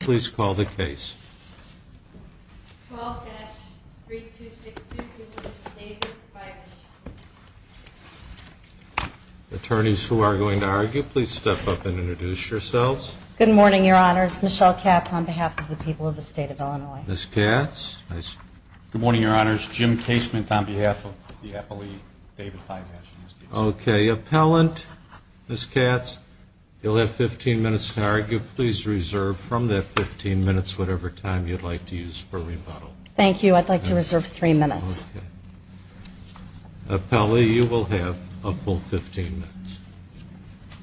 Please call the case. Attorneys who are going to argue, please step up and introduce yourselves. Good morning, Your Honors. Michelle Katz on behalf of the people of the state of Illinois. Ms. Katz. Good morning, Your Honors. Jim Casement on behalf of the Appalachee David Fiveash. Okay. Appellant, Ms. Katz, you'll have 15 minutes to argue. Please reserve from that 15 minutes whatever time you'd like to use for rebuttal. Thank you. I'd like to reserve three minutes. Appellee, you will have a full 15 minutes.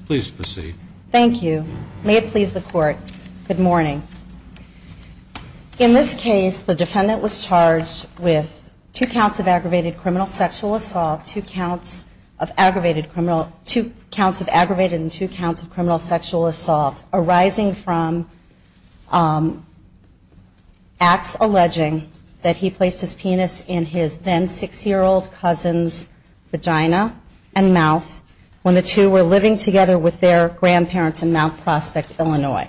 Please proceed. Thank you. May it please the Court. Good morning. In this case, the defendant was charged with two counts of aggravated criminal sexual assault, two counts of aggravated and two counts of criminal sexual assault arising from acts alleging that he placed his penis in his then six-year-old cousin's vagina and mouth when the two were living together with their grandparents in Mount Prospect, Illinois.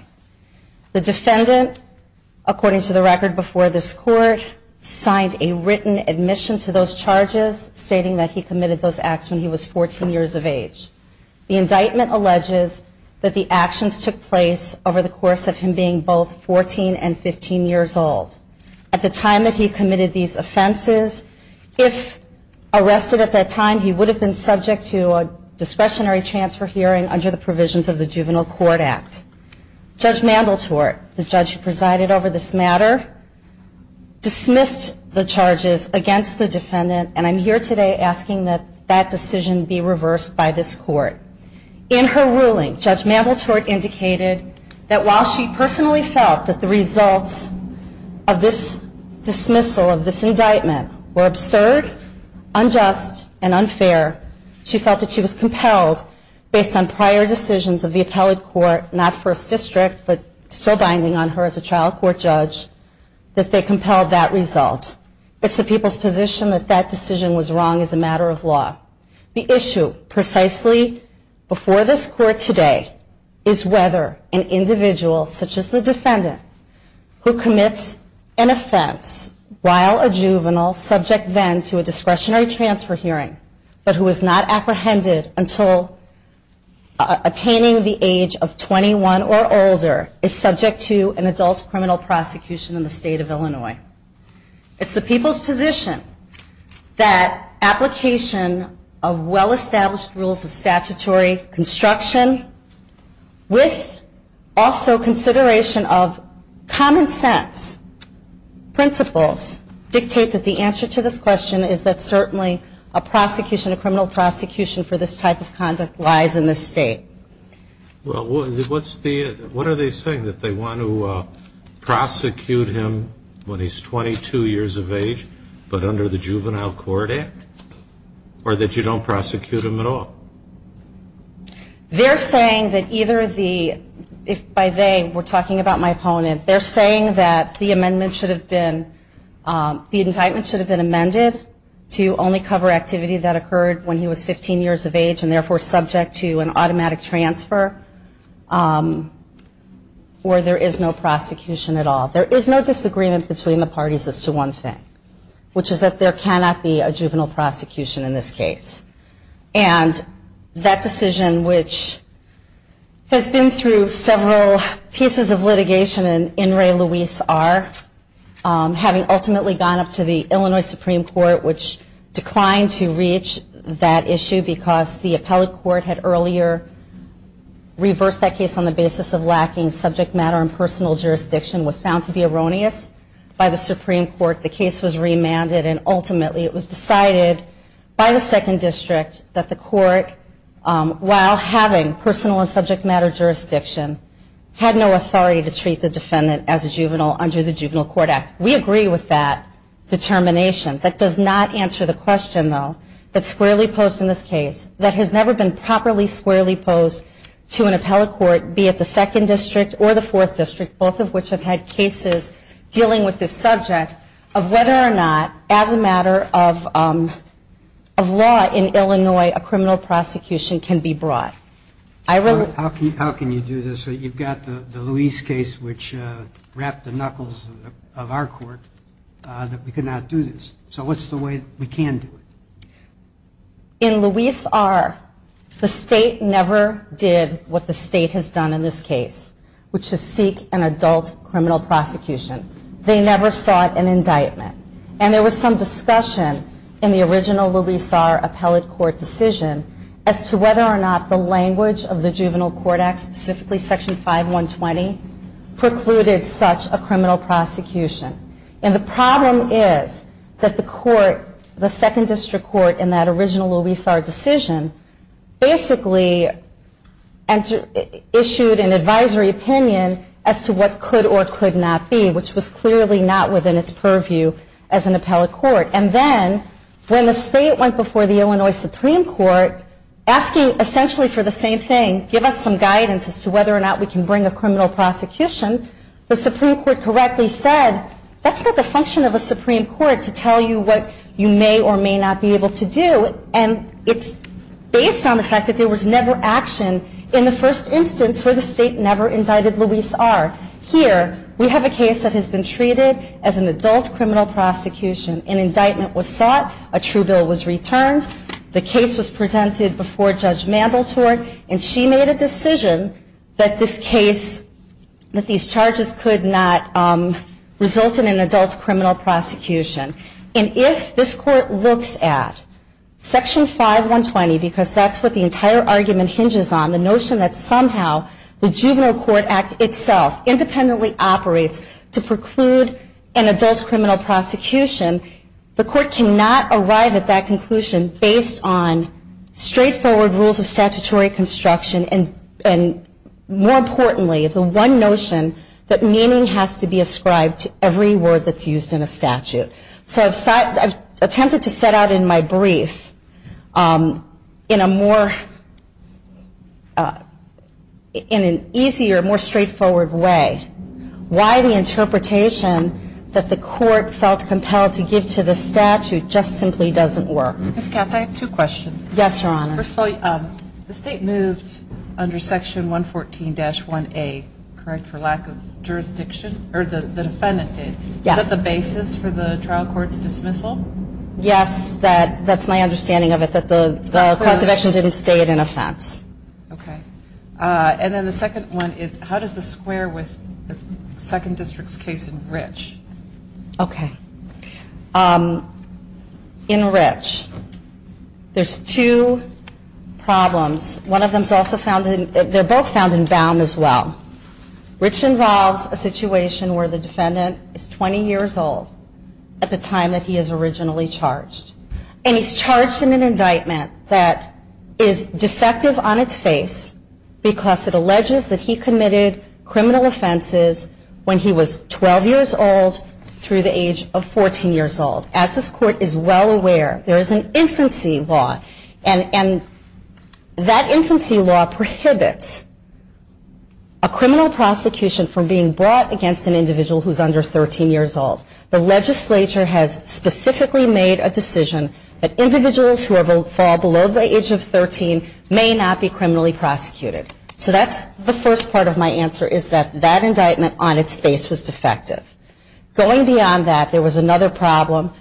The defendant, according to the record before this Court, signed a written admission to those charges stating that he committed those acts when he was 14 years of age. The indictment alleges that the actions took place over the course of him being both 14 and 15 years old. At the time that he committed these offenses, if arrested at that time, he would have been subject to a discretionary transfer hearing under the provisions of the Juvenile Court Act. Judge Mandeltort, the judge who presided over this matter, dismissed the charges against the defendant, and I'm here today asking that that decision be reversed by this Court. In her ruling, Judge Mandeltort indicated that while she personally felt that the results of this dismissal, of this indictment, were absurd, unjust, and unfair, she felt that she was compelled, based on prior decisions of the appellate court, not First District, but still binding on her as a trial court judge, that they compelled that result. It's the people's position that that decision was wrong as a matter of law. The issue, precisely before this Court today, is whether an individual, such as the defendant, who commits an offense while a juvenile, subject then to a discretionary transfer hearing, but who is not apprehended until attaining the age of 21 or older, is subject to an adult criminal prosecution in the state of Illinois. It's the people's position that application of well-established rules of statutory construction, with also consideration of common sense principles, dictate that the answer to this question is that certainly a prosecution, a criminal prosecution for this type of conduct, lies in this state. Well, what's the, what are they saying, that they want to prosecute him when he's 22 years of age, but under the Juvenile Court Act, or that you don't prosecute him at all? They're saying that either the, if by they, we're talking about my opponent, they're saying that the amendment should have been, the indictment should have been amended to only cover activity that occurred when he was 15 years of age, and therefore subject to an automatic transfer, or there is no prosecution at all. There is no disagreement between the parties as to one thing, which is that there cannot be a juvenile prosecution in this case. And that decision, which has been through several pieces of litigation and in re Luis R., having ultimately gone up to the Illinois Supreme Court, which declined to reach that issue because the appellate court had earlier reversed that case on the basis of lacking subject matter and personal jurisdiction, was found to be erroneous by the Supreme Court. The case was remanded, and ultimately it was decided by the Second District that the court, while having personal and subject matter jurisdiction, had no authority to treat the defendant as a juvenile under the Juvenile Court Act. We agree with that determination. That does not answer the question, though, that's squarely posed in this case, that has never been properly squarely posed to an appellate court, be it the Second District or the Fourth District, both of which have had cases dealing with this subject, of whether or not, as a matter of law in Illinois, a criminal prosecution can be brought. I really – How can you do this? So you've got the Luis case, which wrapped the knuckles of our court, that we cannot do this. So what's the way we can do it? In Luis R., the state never did what the state has done in this case, which is seek an adult criminal prosecution. They never sought an indictment. And there was some discussion in the original Luis R. appellate court decision as to whether or not the language of the Juvenile Court Act, specifically Section 5120, precluded such a criminal prosecution. And the problem is that the court, the Second District Court, in that original Luis R. decision, basically issued an advisory opinion as to what could or could not be, which was clearly not within its purview as an appellate court. And then, when the state went before the Illinois Supreme Court asking essentially for the same thing, give us some guidance as to whether or not we can bring a criminal prosecution, the Supreme Court correctly said, that's not the function of a Supreme Court to tell you what you may or may not be able to do. And it's based on the fact that there was never action in the first instance where the state never indicted Luis R. Here, we have a case that has been treated as an adult criminal prosecution, an indictment was sought, a true bill was returned, the case was presented before Judge Mandeltorn, and she made a decision that this case, that these charges could not result in an adult criminal prosecution. And if this court looks at Section 5120, because that's what the entire argument hinges on, the notion that somehow the Juvenile Court Act itself independently operates to preclude an adult criminal prosecution, the court cannot arrive at that conclusion based on straightforward rules of statutory construction and, more importantly, the one notion that meaning has to be ascribed to every word that's used in a statute. So I've attempted to set out in my brief in a more, in an easier, more straightforward way, why the interpretation that the court felt compelled to give to the statute just simply doesn't work. Ms. Katz, I have two questions. Yes, Your Honor. First of all, the state moved under Section 114-1A, correct, for lack of jurisdiction, or the defendant did, is that the basis for the trial court's dismissal? Yes, that's my understanding of it, that the cause of action didn't state an offense. Okay. And then the second one is, how does the square with the Second District's case in Rich? Okay. In Rich, there's two problems. One of them's also found in, they're both found in Baum as well. Rich involves a situation where the defendant is 20 years old at the time that he is originally charged. And he's charged in an indictment that is defective on its face because it alleges that he committed criminal offenses when he was 12 years old through the age of 14 years old. As this court is well aware, there is an infancy law, and that infancy law prohibits a criminal prosecution from being brought against an individual who's under 13 years old. The legislature has specifically made a decision that individuals who fall below the age of 13 may not be criminally prosecuted. So that's the first part of my answer, is that that indictment on its face was defective. Going beyond that, there was another problem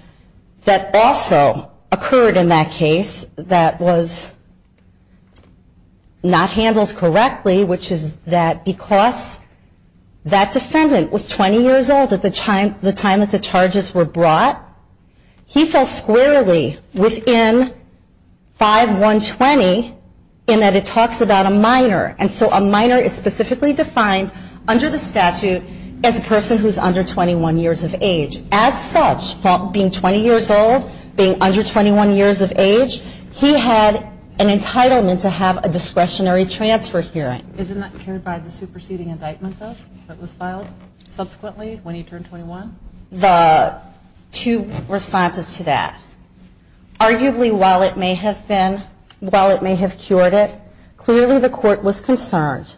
that also occurred in that case that was not handled correctly, which is that because that defendant was 20 years old at the time that the charges were brought, he fell squarely within 5-120 in that it talks about a minor. And so a minor is specifically defined under the statute as a person who's under 21 years of age. As such, being 20 years old, being under 21 years of age, he had an entitlement to have a discretionary transfer hearing. Isn't that carried by the superseding indictment that was filed subsequently when he turned 21? The two responses to that, arguably while it may have been, while it may have cured it, clearly the court was concerned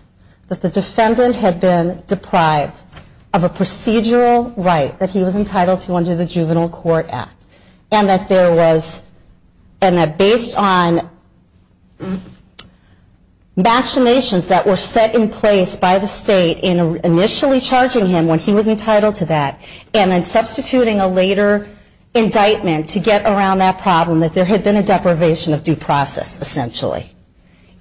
that the defendant had been deprived of a procedural right that he was entitled to under the Juvenile Court Act. And that there was, and that based on machinations that were set in place by the state in initially charging him when he was entitled to that, and then substituting a later indictment to get around that problem, that there had been a deprivation of due process, essentially.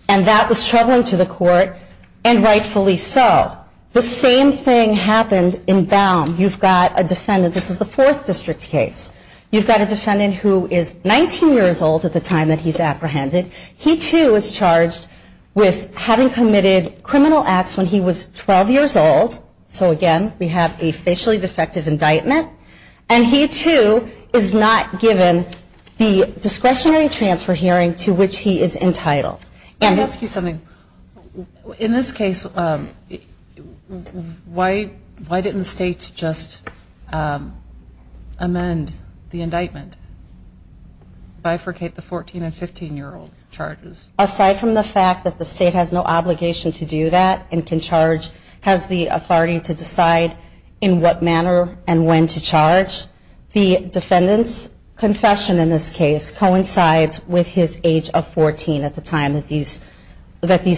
And that was troubling to the court, and rightfully so. The same thing happened in Baum. You've got a defendant, this is the Fourth District case. You've got a defendant who is 19 years old at the time that he's apprehended. He, too, is charged with having committed criminal acts when he was 12 years old. So, again, we have a facially defective indictment. And he, too, is not given the discretionary transfer hearing to which he is entitled. And let me ask you something. In this case, why didn't the state just amend the indictment, bifurcate the 14 and 15-year-old charges? Aside from the fact that the state has no obligation to do that and can charge, has the authority to decide in what manner and when to charge, the defendant's confession in this case coincides with his age of 14 at the time that these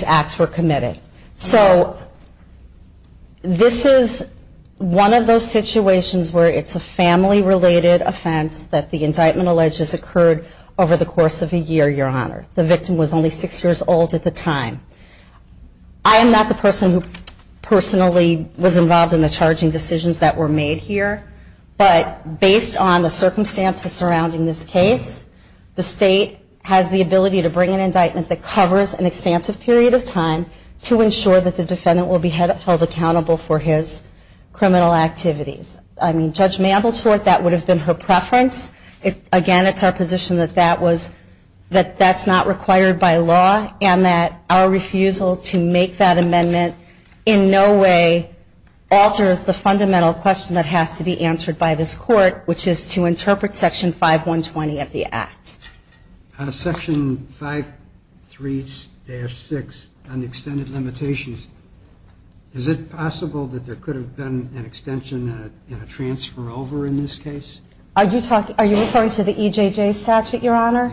acts were committed. So, this is one of those situations where it's a family-related offense that the indictment alleges occurred over the course of a year, Your Honor. The victim was only six years old at the time. I am not the person who personally was involved in the charging decisions that were made here. But based on the circumstances surrounding this case, the state has the ability to bring an indictment that covers an expansive period of time to ensure that the defendant will be held accountable for his criminal activities. I mean, Judge Mandeltort, that would have been her preference. Again, it's our position that that's not required by law and that our refusal to make that amendment in no way alters the fundamental question that has to be answered by this Court, which is to interpret Section 5120 of the Act. Section 53-6, Unextended Limitations. Is it possible that there could have been an extension and a transfer over in this case? Are you referring to the EJJ statute, Your Honor?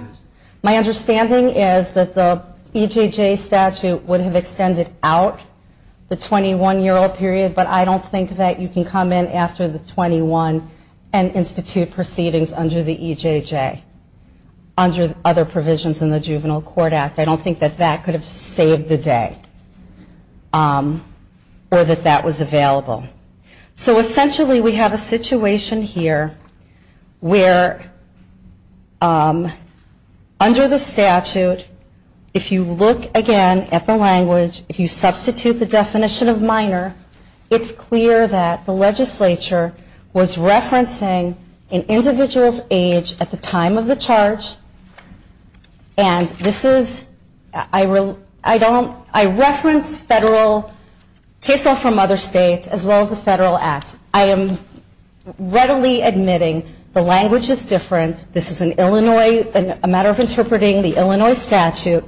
My understanding is that the EJJ statute would have extended out the 21-year-old period, but I don't think that you can come in after the 21 and institute proceedings under the EJJ, under other provisions in the Juvenile Court Act. I don't think that that could have saved the day or that that was available. So essentially, we have a situation here where under the statute, if you look again at the language, if you substitute the definition of minor, it's clear that the legislature was referencing an individual's age at the time of the charge. And this is, I don't, I reference federal, case law from other states, as well as the federal act. I am readily admitting the language is different. This is an Illinois, a matter of interpreting the Illinois statute,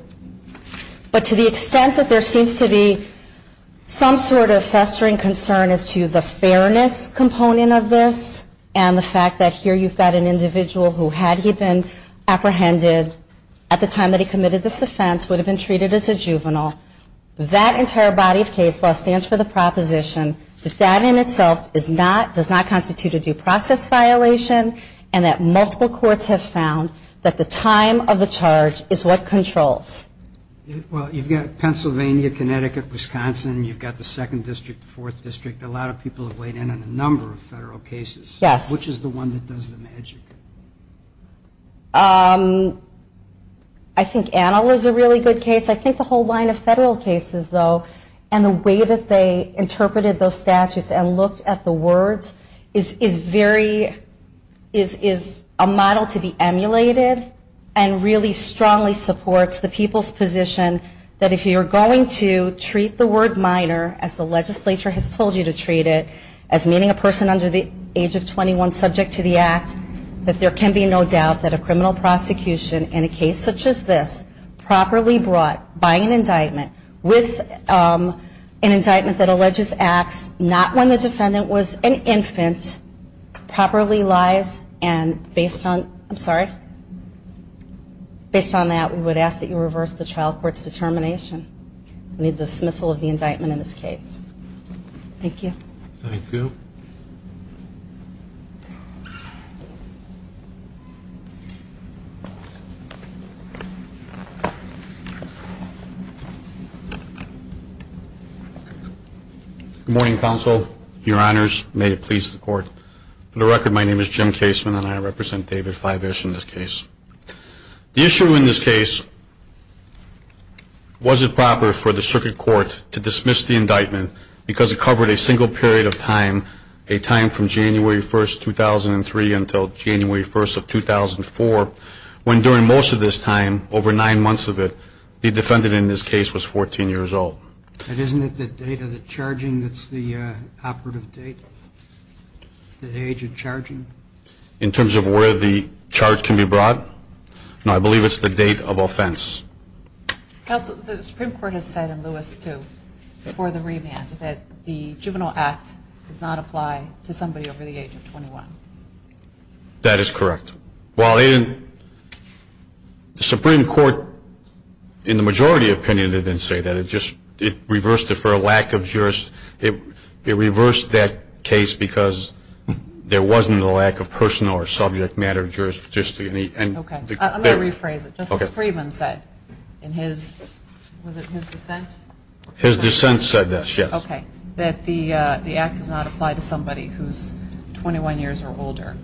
but to the extent that there seems to be some sort of festering concern as to the fairness component of this and the fact that here you've got an individual who, had he been apprehended at the time that he committed this offense, would have been treated as a juvenile, that entire body of case law stands for the proposition that that in itself is not, does not constitute a due process violation and that multiple courts have found that the time of the charge is what controls. Well, you've got Pennsylvania, Connecticut, Wisconsin. You've got the second district, the fourth district. A lot of people have weighed in on a number of federal cases. Yes. Which is the one that does the magic? I think Annal is a really good case. I think the whole line of federal cases, though, and the way that they interpreted those statutes and looked at the words is very, is a model to be emulated and really strongly supports the people's position that if you're going to treat the word minor as the legislature has told you to treat it, as meaning a person under the age of 21 subject to the act, that there can be no doubt that a criminal prosecution in a case such as this, properly brought by an indictment with an indictment that alleges acts not when the defendant was an infant, properly lies and based on, I'm sorry, based on that, we would ask that you reverse the trial court's determination in the dismissal of the indictment in this case. Thank you. Thank you. Good morning, counsel, your honors, may it please the court. For the record, my name is Jim Caseman and I represent David Fiveish in this case. The issue in this case, was it proper for the circuit court to dismiss the indictment because it covered a single period of time, a time from January 1st, 2003 until January 1st of 2004, when during most of this time, over nine months of it, the defendant in this case was 14 years old. And isn't it the date of the charging that's the operative date, the age of charging? In terms of where the charge can be brought? No, I believe it's the date of offense. Counsel, the Supreme Court has said in Lewis too, before the remand, that the juvenile act does not apply to somebody over the age of 21. That is correct. While in the Supreme Court, in the majority opinion, they didn't say that, it reversed it for a lack of jurist, it reversed that case because there wasn't a lack of personal or subject matter of jurisdiction. Okay, I'm going to rephrase it, Justice Friedman said in his, was it his dissent? His dissent said this, yes. Okay, that the act does not apply to somebody who's 21 years or older.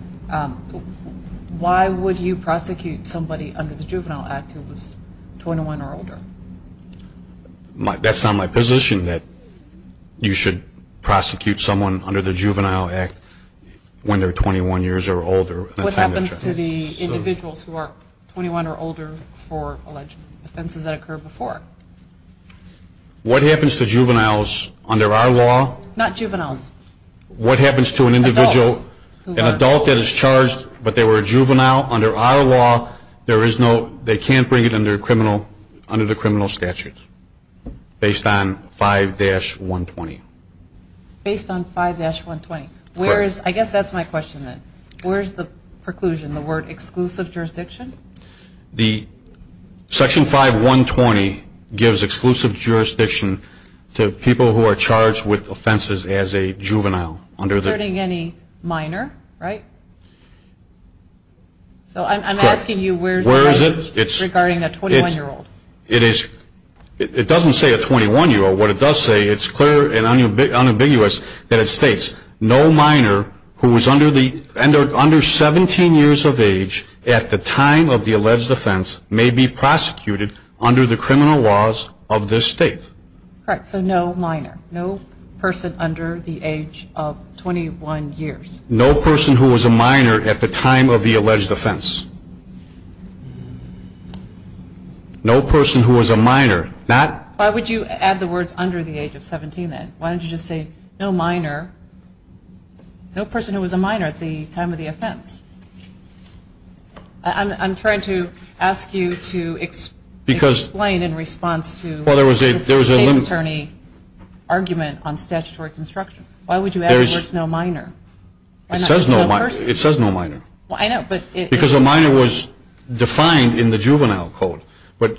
Why would you prosecute somebody under the juvenile act who was 21 or older? That's not my position that you should prosecute someone under the juvenile act when they're 21 years or older. What happens to the individuals who are 21 or older for alleged offenses that occurred before? What happens to juveniles under our law? Not juveniles. What happens to an individual, an adult that is charged, but they were a juvenile under our law, there is no, they can't bring it under criminal, under the criminal statutes, based on 5-120. Based on 5-120, where is, I guess that's my question then, where is the preclusion, the word exclusive jurisdiction? The section 5-120 gives exclusive jurisdiction to people who are charged with offenses as a juvenile under the. Concerning any minor, right? So I'm asking you where's. Where is it? It's regarding a 21-year-old. It is, it doesn't say a 21-year-old, what it does say, it's clear and unambiguous that it states no minor who is under the, under 17 years of age at the time of the alleged offense may be prosecuted under the criminal laws of this state. Correct, so no minor. No person under the age of 21 years. No person who was a minor at the time of the alleged offense. No person who was a minor, not. Why would you add the words under the age of 17 then? Why don't you just say no minor, no person who was a minor at the time of the offense? I'm trying to ask you to explain in response to. Well, there was a, there was a. State's attorney argument on statutory construction. Why would you add the words no minor? It says no minor. It says no minor. Well, I know, but it. Because a minor was defined in the juvenile code. But,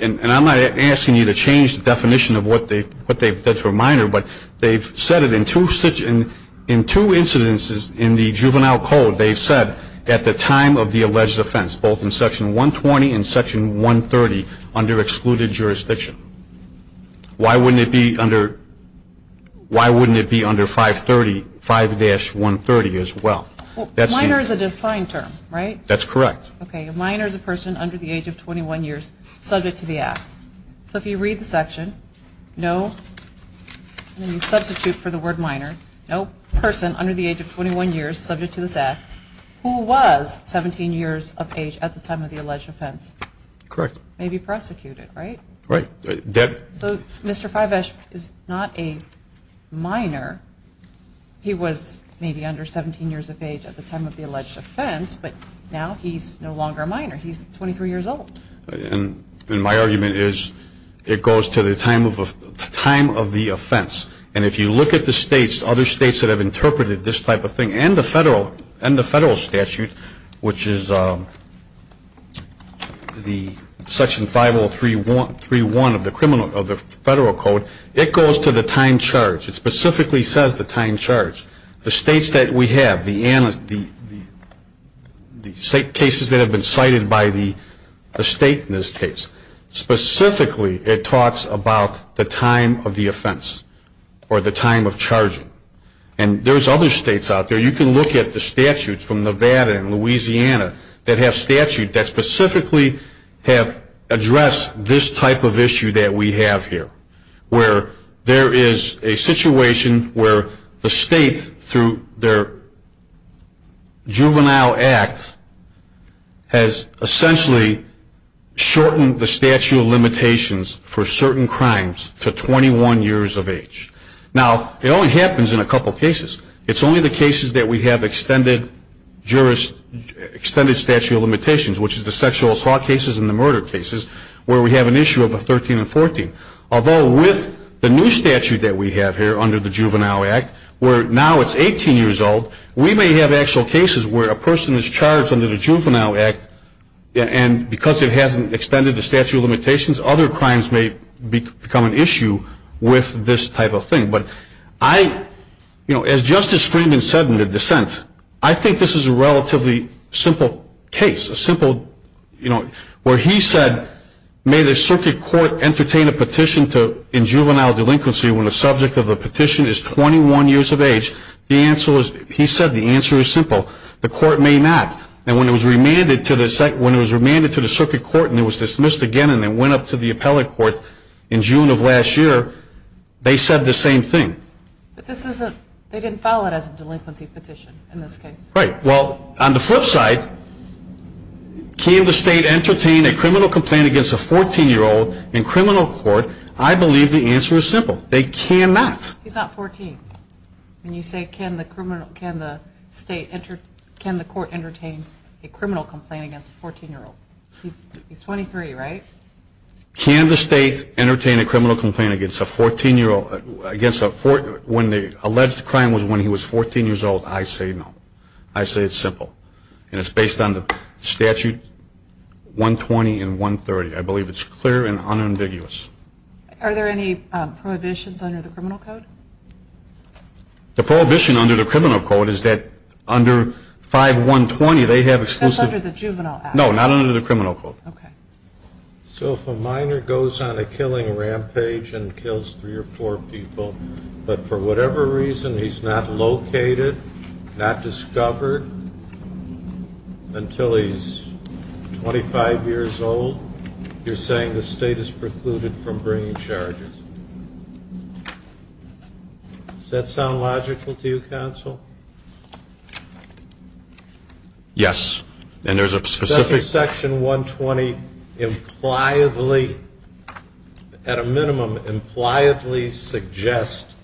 and I'm not asking you to change the definition of what they, what they've, that's for minor, but they've said it in two such, in, in two incidences in the juvenile code. They've said at the time of the alleged offense, both in section 120 and section 130 under excluded jurisdiction. Why wouldn't it be under, why wouldn't it be under 530, 5-130 as well? That's the. Minor is a defined term, right? That's correct. Okay, a minor is a person under the age of 21 years, subject to the act. So if you read the section, no, and then you substitute for the word minor. No person under the age of 21 years, subject to this act, who was 17 years of age at the time of the alleged offense. Correct. May be prosecuted, right? Right, that. So, Mr. Fivesh is not a minor. He was maybe under 17 years of age at the time of the alleged offense, but now he's no longer a minor, he's 23 years old. And, and my argument is, it goes to the time of, the time of the offense. And if you look at the states, other states that have interpreted this type of in the federal statute, which is the section 5031 of the criminal, of the federal code. It goes to the time charged. It specifically says the time charged. The states that we have, the, the, the, the state cases that have been cited by the, the state in this case, specifically it talks about the time of the offense. Or the time of charging. And there's other states out there. You can look at the statutes from Nevada and Louisiana that have statute that specifically have addressed this type of issue that we have here. Where there is a situation where the state through their juvenile act has essentially shortened the statute of limitations for certain crimes to 21 years of age. Now, it only happens in a couple cases. It's only the cases that we have extended jurist, extended statute of limitations, which is the sexual assault cases and the murder cases, where we have an issue of a 13 and 14. Although with the new statute that we have here under the juvenile act, where now it's 18 years old, we may have actual cases where a person is charged under the juvenile act, and because it hasn't extended the statute of limitations, other crimes may become an issue with this type of thing. But I, as Justice Freeman said in the dissent, I think this is a relatively simple case, a simple, where he said, may the circuit court entertain a petition in juvenile delinquency when the subject of the petition is 21 years of age, he said the answer is simple, the court may not. And when it was remanded to the circuit court and it was dismissed again and went up to the appellate court in June of last year, they said the same thing. But this isn't, they didn't file it as a delinquency petition in this case. Right, well, on the flip side, can the state entertain a criminal complaint against a 14 year old in criminal court, I believe the answer is simple. They cannot. He's not 14. When you say can the state entertain, can the court entertain a criminal complaint against a 14 year old. He's 23, right? Can the state entertain a criminal complaint against a 14 year old, against a 14, when the alleged crime was when he was 14 years old, I say no. I say it's simple. And it's based on the statute 120 and 130. I believe it's clear and unambiguous. Are there any prohibitions under the criminal code? The prohibition under the criminal code is that under 5120, they have exclusive. That's under the juvenile act. No, not under the criminal code. Okay. So if a minor goes on a killing rampage and kills three or four people, but for whatever reason he's not located, not discovered, until he's 25 years old, you're saying the state is precluded from bringing charges. Does that sound logical to you, counsel? Yes. And there's a specific- Does section 120, at a minimum, impliably suggest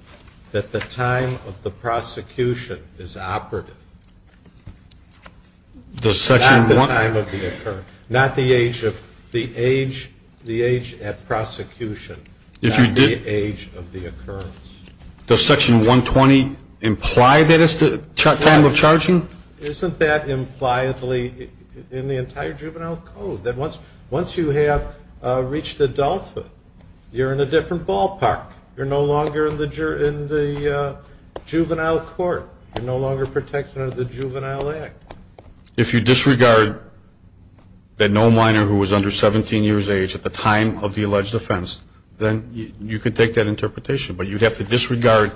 that the time of the prosecution is operative? Does section 120- Not the time of the occurrence, not the age at prosecution. If you did- Not the age of the occurrence. Does section 120 imply that it's the time of charging? Isn't that impliedly in the entire juvenile code? That once you have reached adulthood, you're in a different ballpark. You're no longer in the juvenile court. You're no longer protected under the juvenile act. If you disregard that no minor who was under 17 years age at the time of the alleged offense, then you could take that interpretation. But you'd have to disregard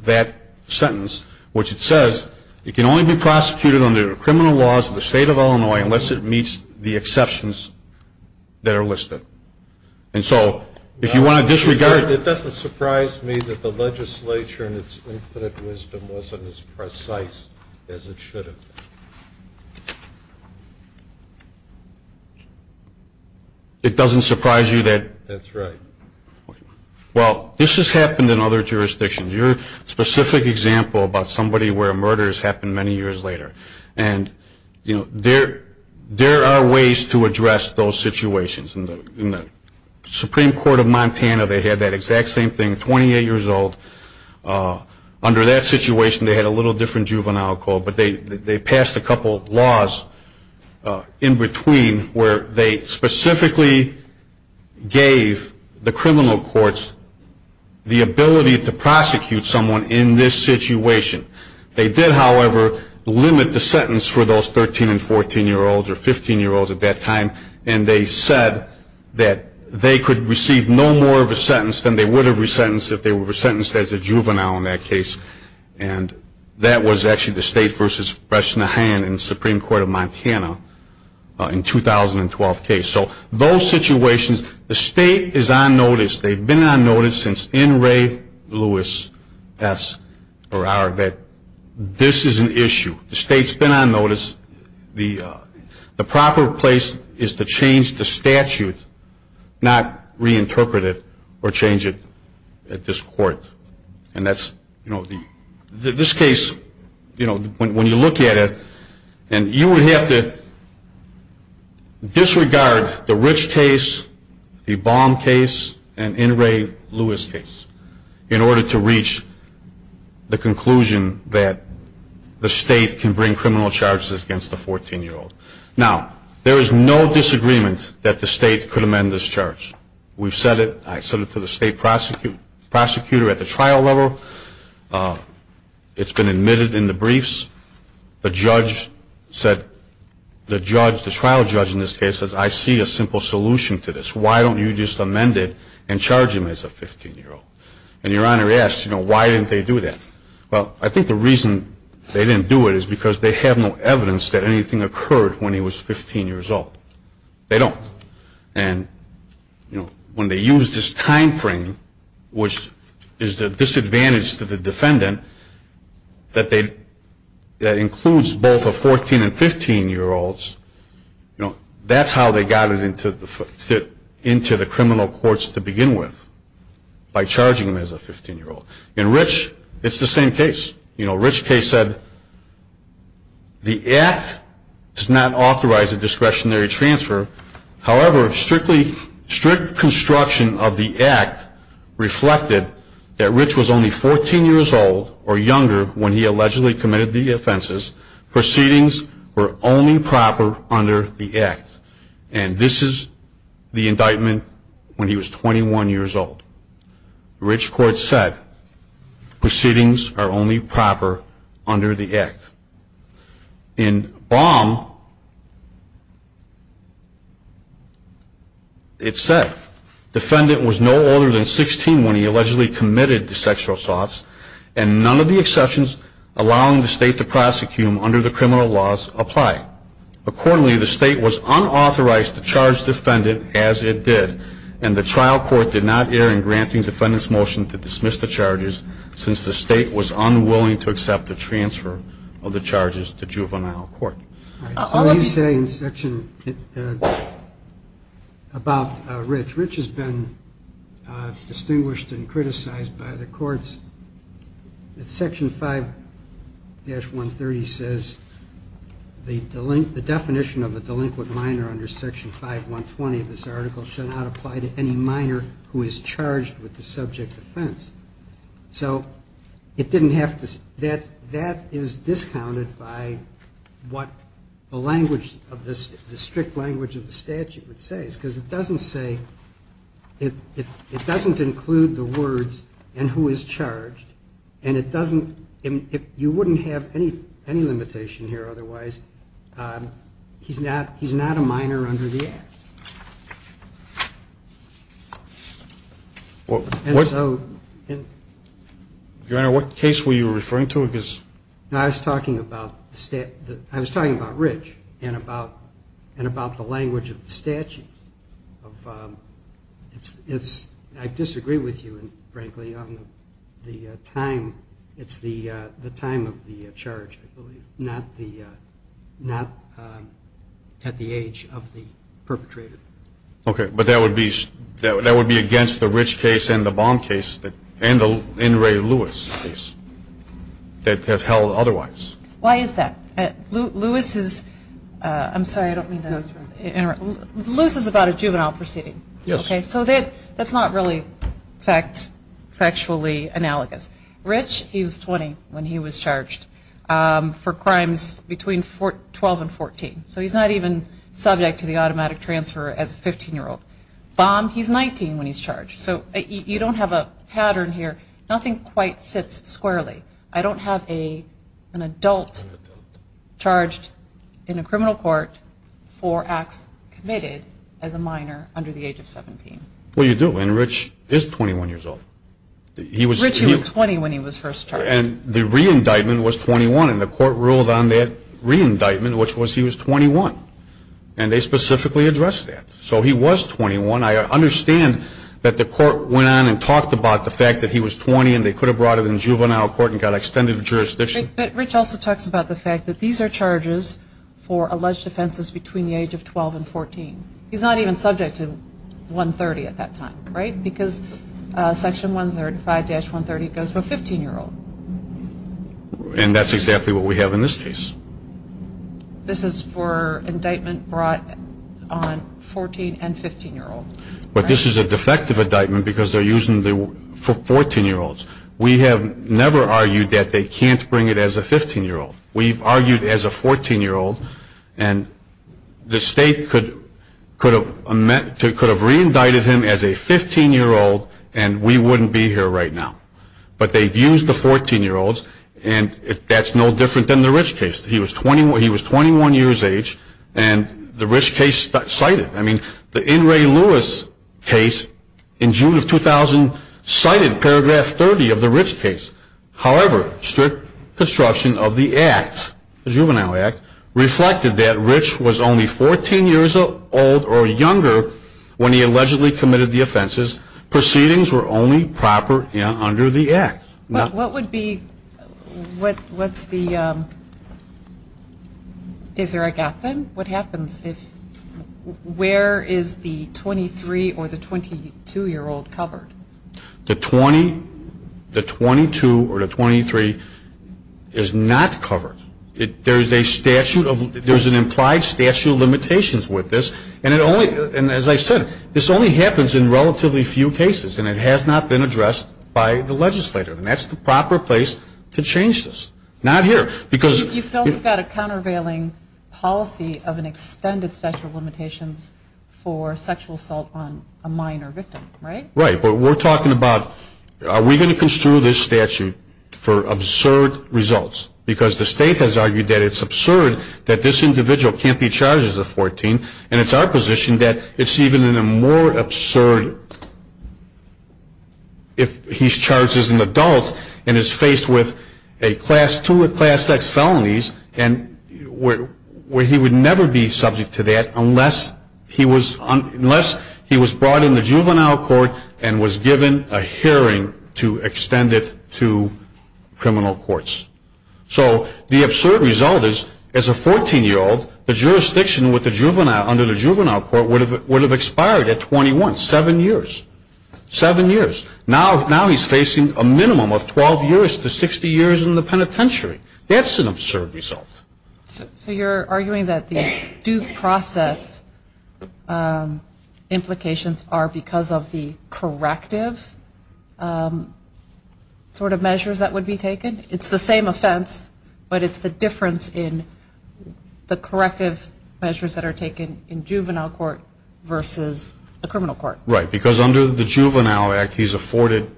that sentence, which it says, it can only be prosecuted under the criminal laws of the state of Illinois unless it meets the exceptions that are listed. And so, if you want to disregard- It doesn't surprise me that the legislature, in its infinite wisdom, wasn't as precise as it should have been. It doesn't surprise you that- That's right. Well, this has happened in other jurisdictions. Your specific example about somebody where a murder has happened many years later. And there are ways to address those situations. In the Supreme Court of Montana, they had that exact same thing, 28 years old. Under that situation, they had a little different juvenile code. But they passed a couple of laws in between, where they specifically gave the criminal courts the ability to prosecute someone in this situation. They did, however, limit the sentence for those 13 and 14-year-olds or 15-year-olds at that time. And they said that they could receive no more of a sentence than they would have resentenced if they were sentenced as a juvenile in that case. And that was actually the state versus Bresnahan in the Supreme Court of Montana in 2012 case. So those situations, the state is on notice. They've been on notice since N. Ray Lewis S. Or our, this is an issue. The state's been on notice. The proper place is to change the statute, not reinterpret it or change it at this court. And that's, this case, when you look at it, and you would have to disregard the Rich case, the Baum case, and N. Ray Lewis case in order to reach the conclusion that the state can bring criminal charges against a 14-year-old. Now, there is no disagreement that the state could amend this charge. We've said it, I said it to the state prosecutor at the trial level. It's been admitted in the briefs. The judge said, the trial judge in this case says, I see a simple solution to this. Why don't you just amend it and charge him as a 15-year-old? And your Honor asks, why didn't they do that? Well, I think the reason they didn't do it is because they have no evidence that anything occurred when he was 15 years old. They don't. And when they use this time frame, which is the disadvantage to the defendant, that they, that includes both a 14 and 15 year olds. You know, that's how they got it into the criminal courts to begin with, by charging him as a 15 year old. In Rich, it's the same case. You know, Rich case said, the act does not authorize a discretionary transfer. However, strict construction of the act reflected that Rich was only 14 years old or younger when he allegedly committed the offenses. Proceedings were only proper under the act. And this is the indictment when he was 21 years old. Rich court said, proceedings are only proper under the act. In Baum, it said, defendant was no older than 16 when he allegedly committed the sexual assaults. And none of the exceptions allowing the state to prosecute him under the criminal laws apply. Accordingly, the state was unauthorized to charge the defendant as it did. And the trial court did not air in granting defendant's motion to dismiss the charges since the state was unwilling to accept the transfer of the charges to juvenile court. All right, so what do you say in section about Rich? Rich has been distinguished and criticized by the courts. Section 5-130 says, the definition of a delinquent minor under section 5-120 of this article should not apply to any minor who is charged with the subject offense. So it didn't have to, that is discounted by what the language of this, the strict language of the statute would say. And I think that's a good case, because it doesn't say, it doesn't include the words and who is charged. And it doesn't, you wouldn't have any limitation here otherwise. He's not a minor under the act. And so- Your Honor, what case were you referring to? I was talking about Rich and about the language of the statute. I disagree with you, frankly, on the time. It's the time of the charge, I believe, not at the age of the perpetrator. Okay, but that would be against the Rich case and the Baum case, and the In re Lewis case, that have held otherwise. Why is that? Lewis is, I'm sorry, I don't mean to interrupt. Lewis is about a juvenile proceeding. Yes. Okay, so that's not really factually analogous. Rich, he was 20 when he was charged for crimes between 12 and 14. So he's not even subject to the automatic transfer as a 15 year old. Baum, he's 19 when he's charged. So you don't have a pattern here. Nothing quite fits squarely. I don't have an adult charged in a criminal court for acts committed as a minor under the age of 17. Well, you do, and Rich is 21 years old. Rich, he was 20 when he was first charged. And the re-indictment was 21, and the court ruled on that re-indictment, which was he was 21, and they specifically addressed that. So he was 21. I understand that the court went on and talked about the fact that he was 20 and they could have brought him in juvenile court and got extended jurisdiction. But Rich also talks about the fact that these are charges for alleged offenses between the age of 12 and 14. He's not even subject to 130 at that time, right? Because section 135-130 goes for a 15 year old. And that's exactly what we have in this case. This is for indictment brought on 14 and 15 year olds. But this is a defective indictment because they're using it for 14 year olds. We have never argued that they can't bring it as a 15 year old. We've argued as a 14 year old, and the state could have re-indicted him as a 15 year old, and we wouldn't be here right now. But they've used the 14 year olds, and that's no different than the Rich case. He was 21 years age, and the Rich case cited. I mean, the In Re Lewis case in June of 2000 cited paragraph 30 of the Rich case. However, strict construction of the act, the Juvenile Act, reflected that Rich was only 14 years old or younger when he allegedly committed the offenses. Proceedings were only proper and under the act. What would be, what's the, is there a gap then? What happens if, where is the 23 or the 22 year old covered? The 20, the 22, or the 23 is not covered. There's a statute of, there's an implied statute of limitations with this. And it only, and as I said, this only happens in relatively few cases, and it has not been addressed by the legislator. And that's the proper place to change this. Not here, because- You've also got a countervailing policy of an extended statute of limitations for sexual assault on a minor victim, right? Right, but we're talking about, are we going to construe this statute for absurd results? Because the state has argued that it's absurd that this individual can't be charged as a 14, and it's our position that it's even a more absurd if he's charged as an adult and is faced with a class two or class X felonies. And where he would never be subject to that unless he was brought in the juvenile court and was given a hearing to extend it to criminal courts. So the absurd result is, as a 14 year old, the jurisdiction under the juvenile court would have expired at 21, seven years, seven years. Now he's facing a minimum of 12 years to 60 years in the penitentiary. That's an absurd result. So you're arguing that the due process implications are because of the corrective sort of measures that would be taken? It's the same offense, but it's the difference in the corrective measures that are taken in juvenile court versus the criminal court. Right, because under the Juvenile Act, he's afforded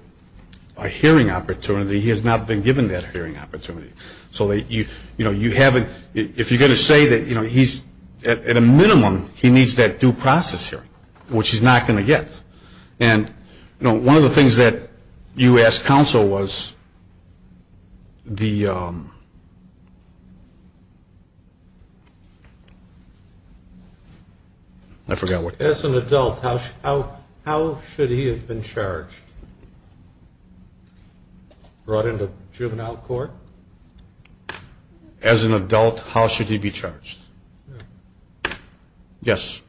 a hearing opportunity. He has not been given that hearing opportunity. So if you're going to say that he's, at a minimum, he needs that due process hearing, which he's not going to get. And one of the things that you asked counsel was the, I forgot what- As an adult, how should he have been charged? Brought into juvenile court? As an adult, how should he be charged? Yes.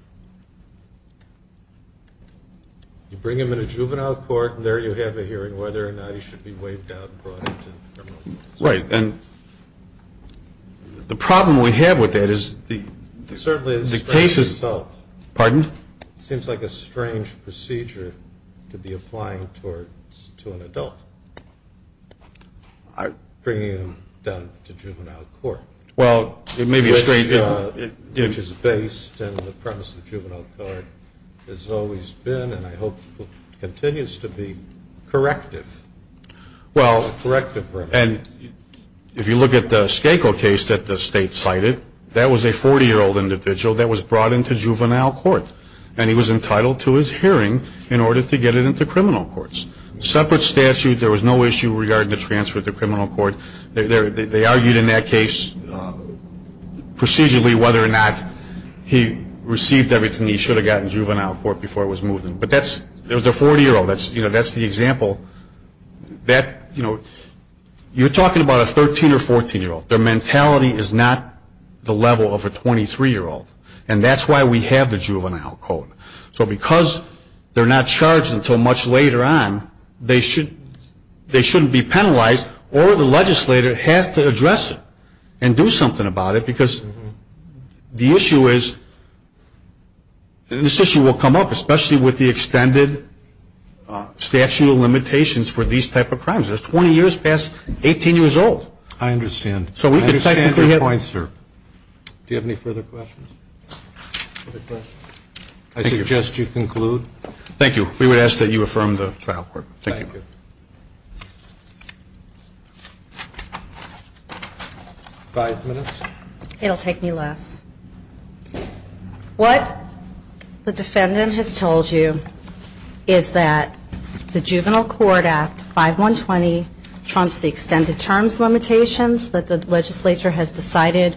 You bring him into juvenile court, and there you have a hearing whether or not he should be waived out and brought into the criminal court. Right, and the problem we have with that is the- Certainly, it's a strange result. Pardon? Seems like a strange procedure to be applying to an adult. I'm bringing him down to juvenile court. Well, it may be a strange- Which is based on the premise that juvenile court has always been, and I hope continues to be corrective, corrective for him. And if you look at the Skako case that the state cited, that was a 40-year-old individual that was brought into juvenile court. And he was entitled to his hearing in order to get it into criminal courts. Separate statute, there was no issue regarding the transfer to criminal court. They argued in that case procedurally whether or not he received everything he should have gotten in juvenile court before he was moved in. But that's, there's the 40-year-old, that's the example. That, you're talking about a 13 or 14-year-old. Their mentality is not the level of a 23-year-old. And that's why we have the juvenile code. So because they're not charged until much later on, they shouldn't be penalized, or the legislator has to address it and do something about it. Because the issue is, and this issue will come up, especially with the extended statute of limitations for these type of crimes. That's 20 years past 18 years old. I understand. So we can take the- I understand your point, sir. Do you have any further questions? Other questions? I suggest you conclude. Thank you. We would ask that you affirm the trial court. Thank you. Five minutes. It'll take me less. What the defendant has told you is that the Juvenile Court Act 5120 trumps the extended terms limitations that the legislature has decided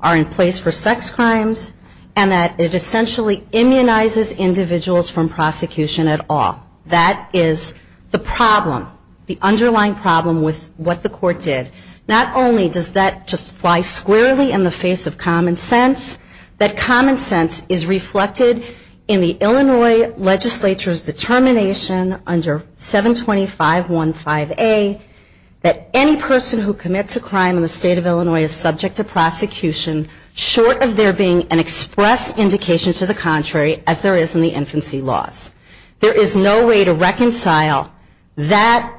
are in place for sex crimes, and that it essentially immunizes individuals from prosecution at all. That is the problem, the underlying problem with what the court did. Not only does that just fly squarely in the face of common sense, that common sense is reflected in the Illinois legislature's determination under 720-515-A that any person who commits a crime in the state of Illinois is subject to prosecution short of there being an express indication to the contrary, as there is in the infancy laws. There is no way to reconcile that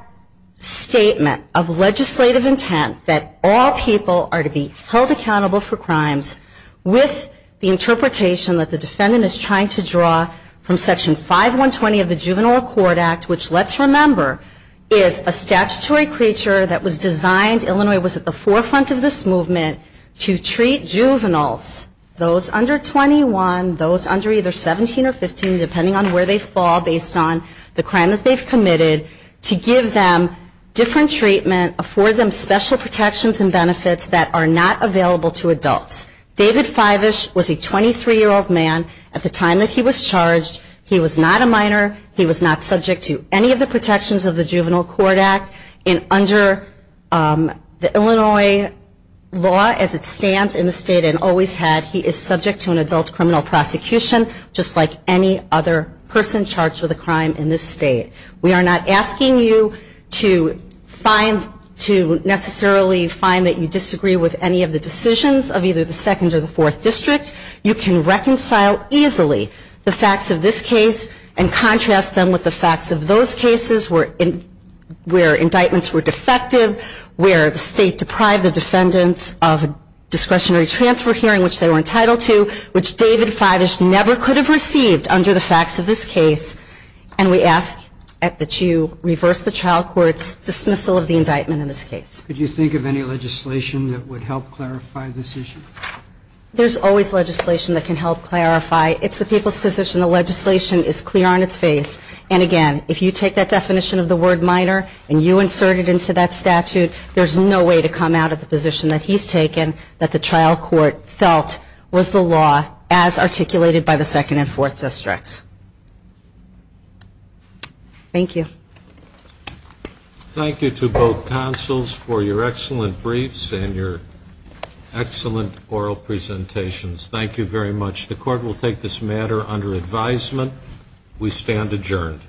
statement of legislative intent that all people are to be held accountable for crimes with the interpretation that the defendant is trying to draw from Section 5120 of the Juvenile Court Act, which, let's remember, is a statutory creature that was designed, Illinois was at the forefront of this movement, to treat juveniles, those under 21, those under either 17 or 15, depending on where they fall, based on the crime that they've committed, to give them different treatment, afford them special protections and benefits that are not available to adults. David Fivish was a 23-year-old man at the time that he was charged. He was not a minor. He was not subject to any of the protections of the Juvenile Court Act. And under the Illinois law, as it stands in the state and always had, he is subject to an adult criminal prosecution, just like any other person charged with a crime in this state. We are not asking you to necessarily find that you disagree with any of the decisions of either the second or the fourth district. You can reconcile easily the facts of this case and contrast them with the facts of those cases where indictments were defective, where the state deprived the defendants of discretionary transfer hearing, which they were entitled to, which David Fivish never could have received under the facts of this case. And we ask that you reverse the child court's dismissal of the indictment in this case. Could you think of any legislation that would help clarify this issue? There's always legislation that can help clarify. It's the people's position. The legislation is clear on its face. And again, if you take that definition of the word minor and you insert it into that statute, there's no way to come out of the position that he's taken, that the trial court felt was the law as articulated by the second and fourth districts. Thank you. Thank you to both counsels for your excellent briefs and your excellent oral presentations. Thank you very much. The court will take this matter under advisement. We stand adjourned.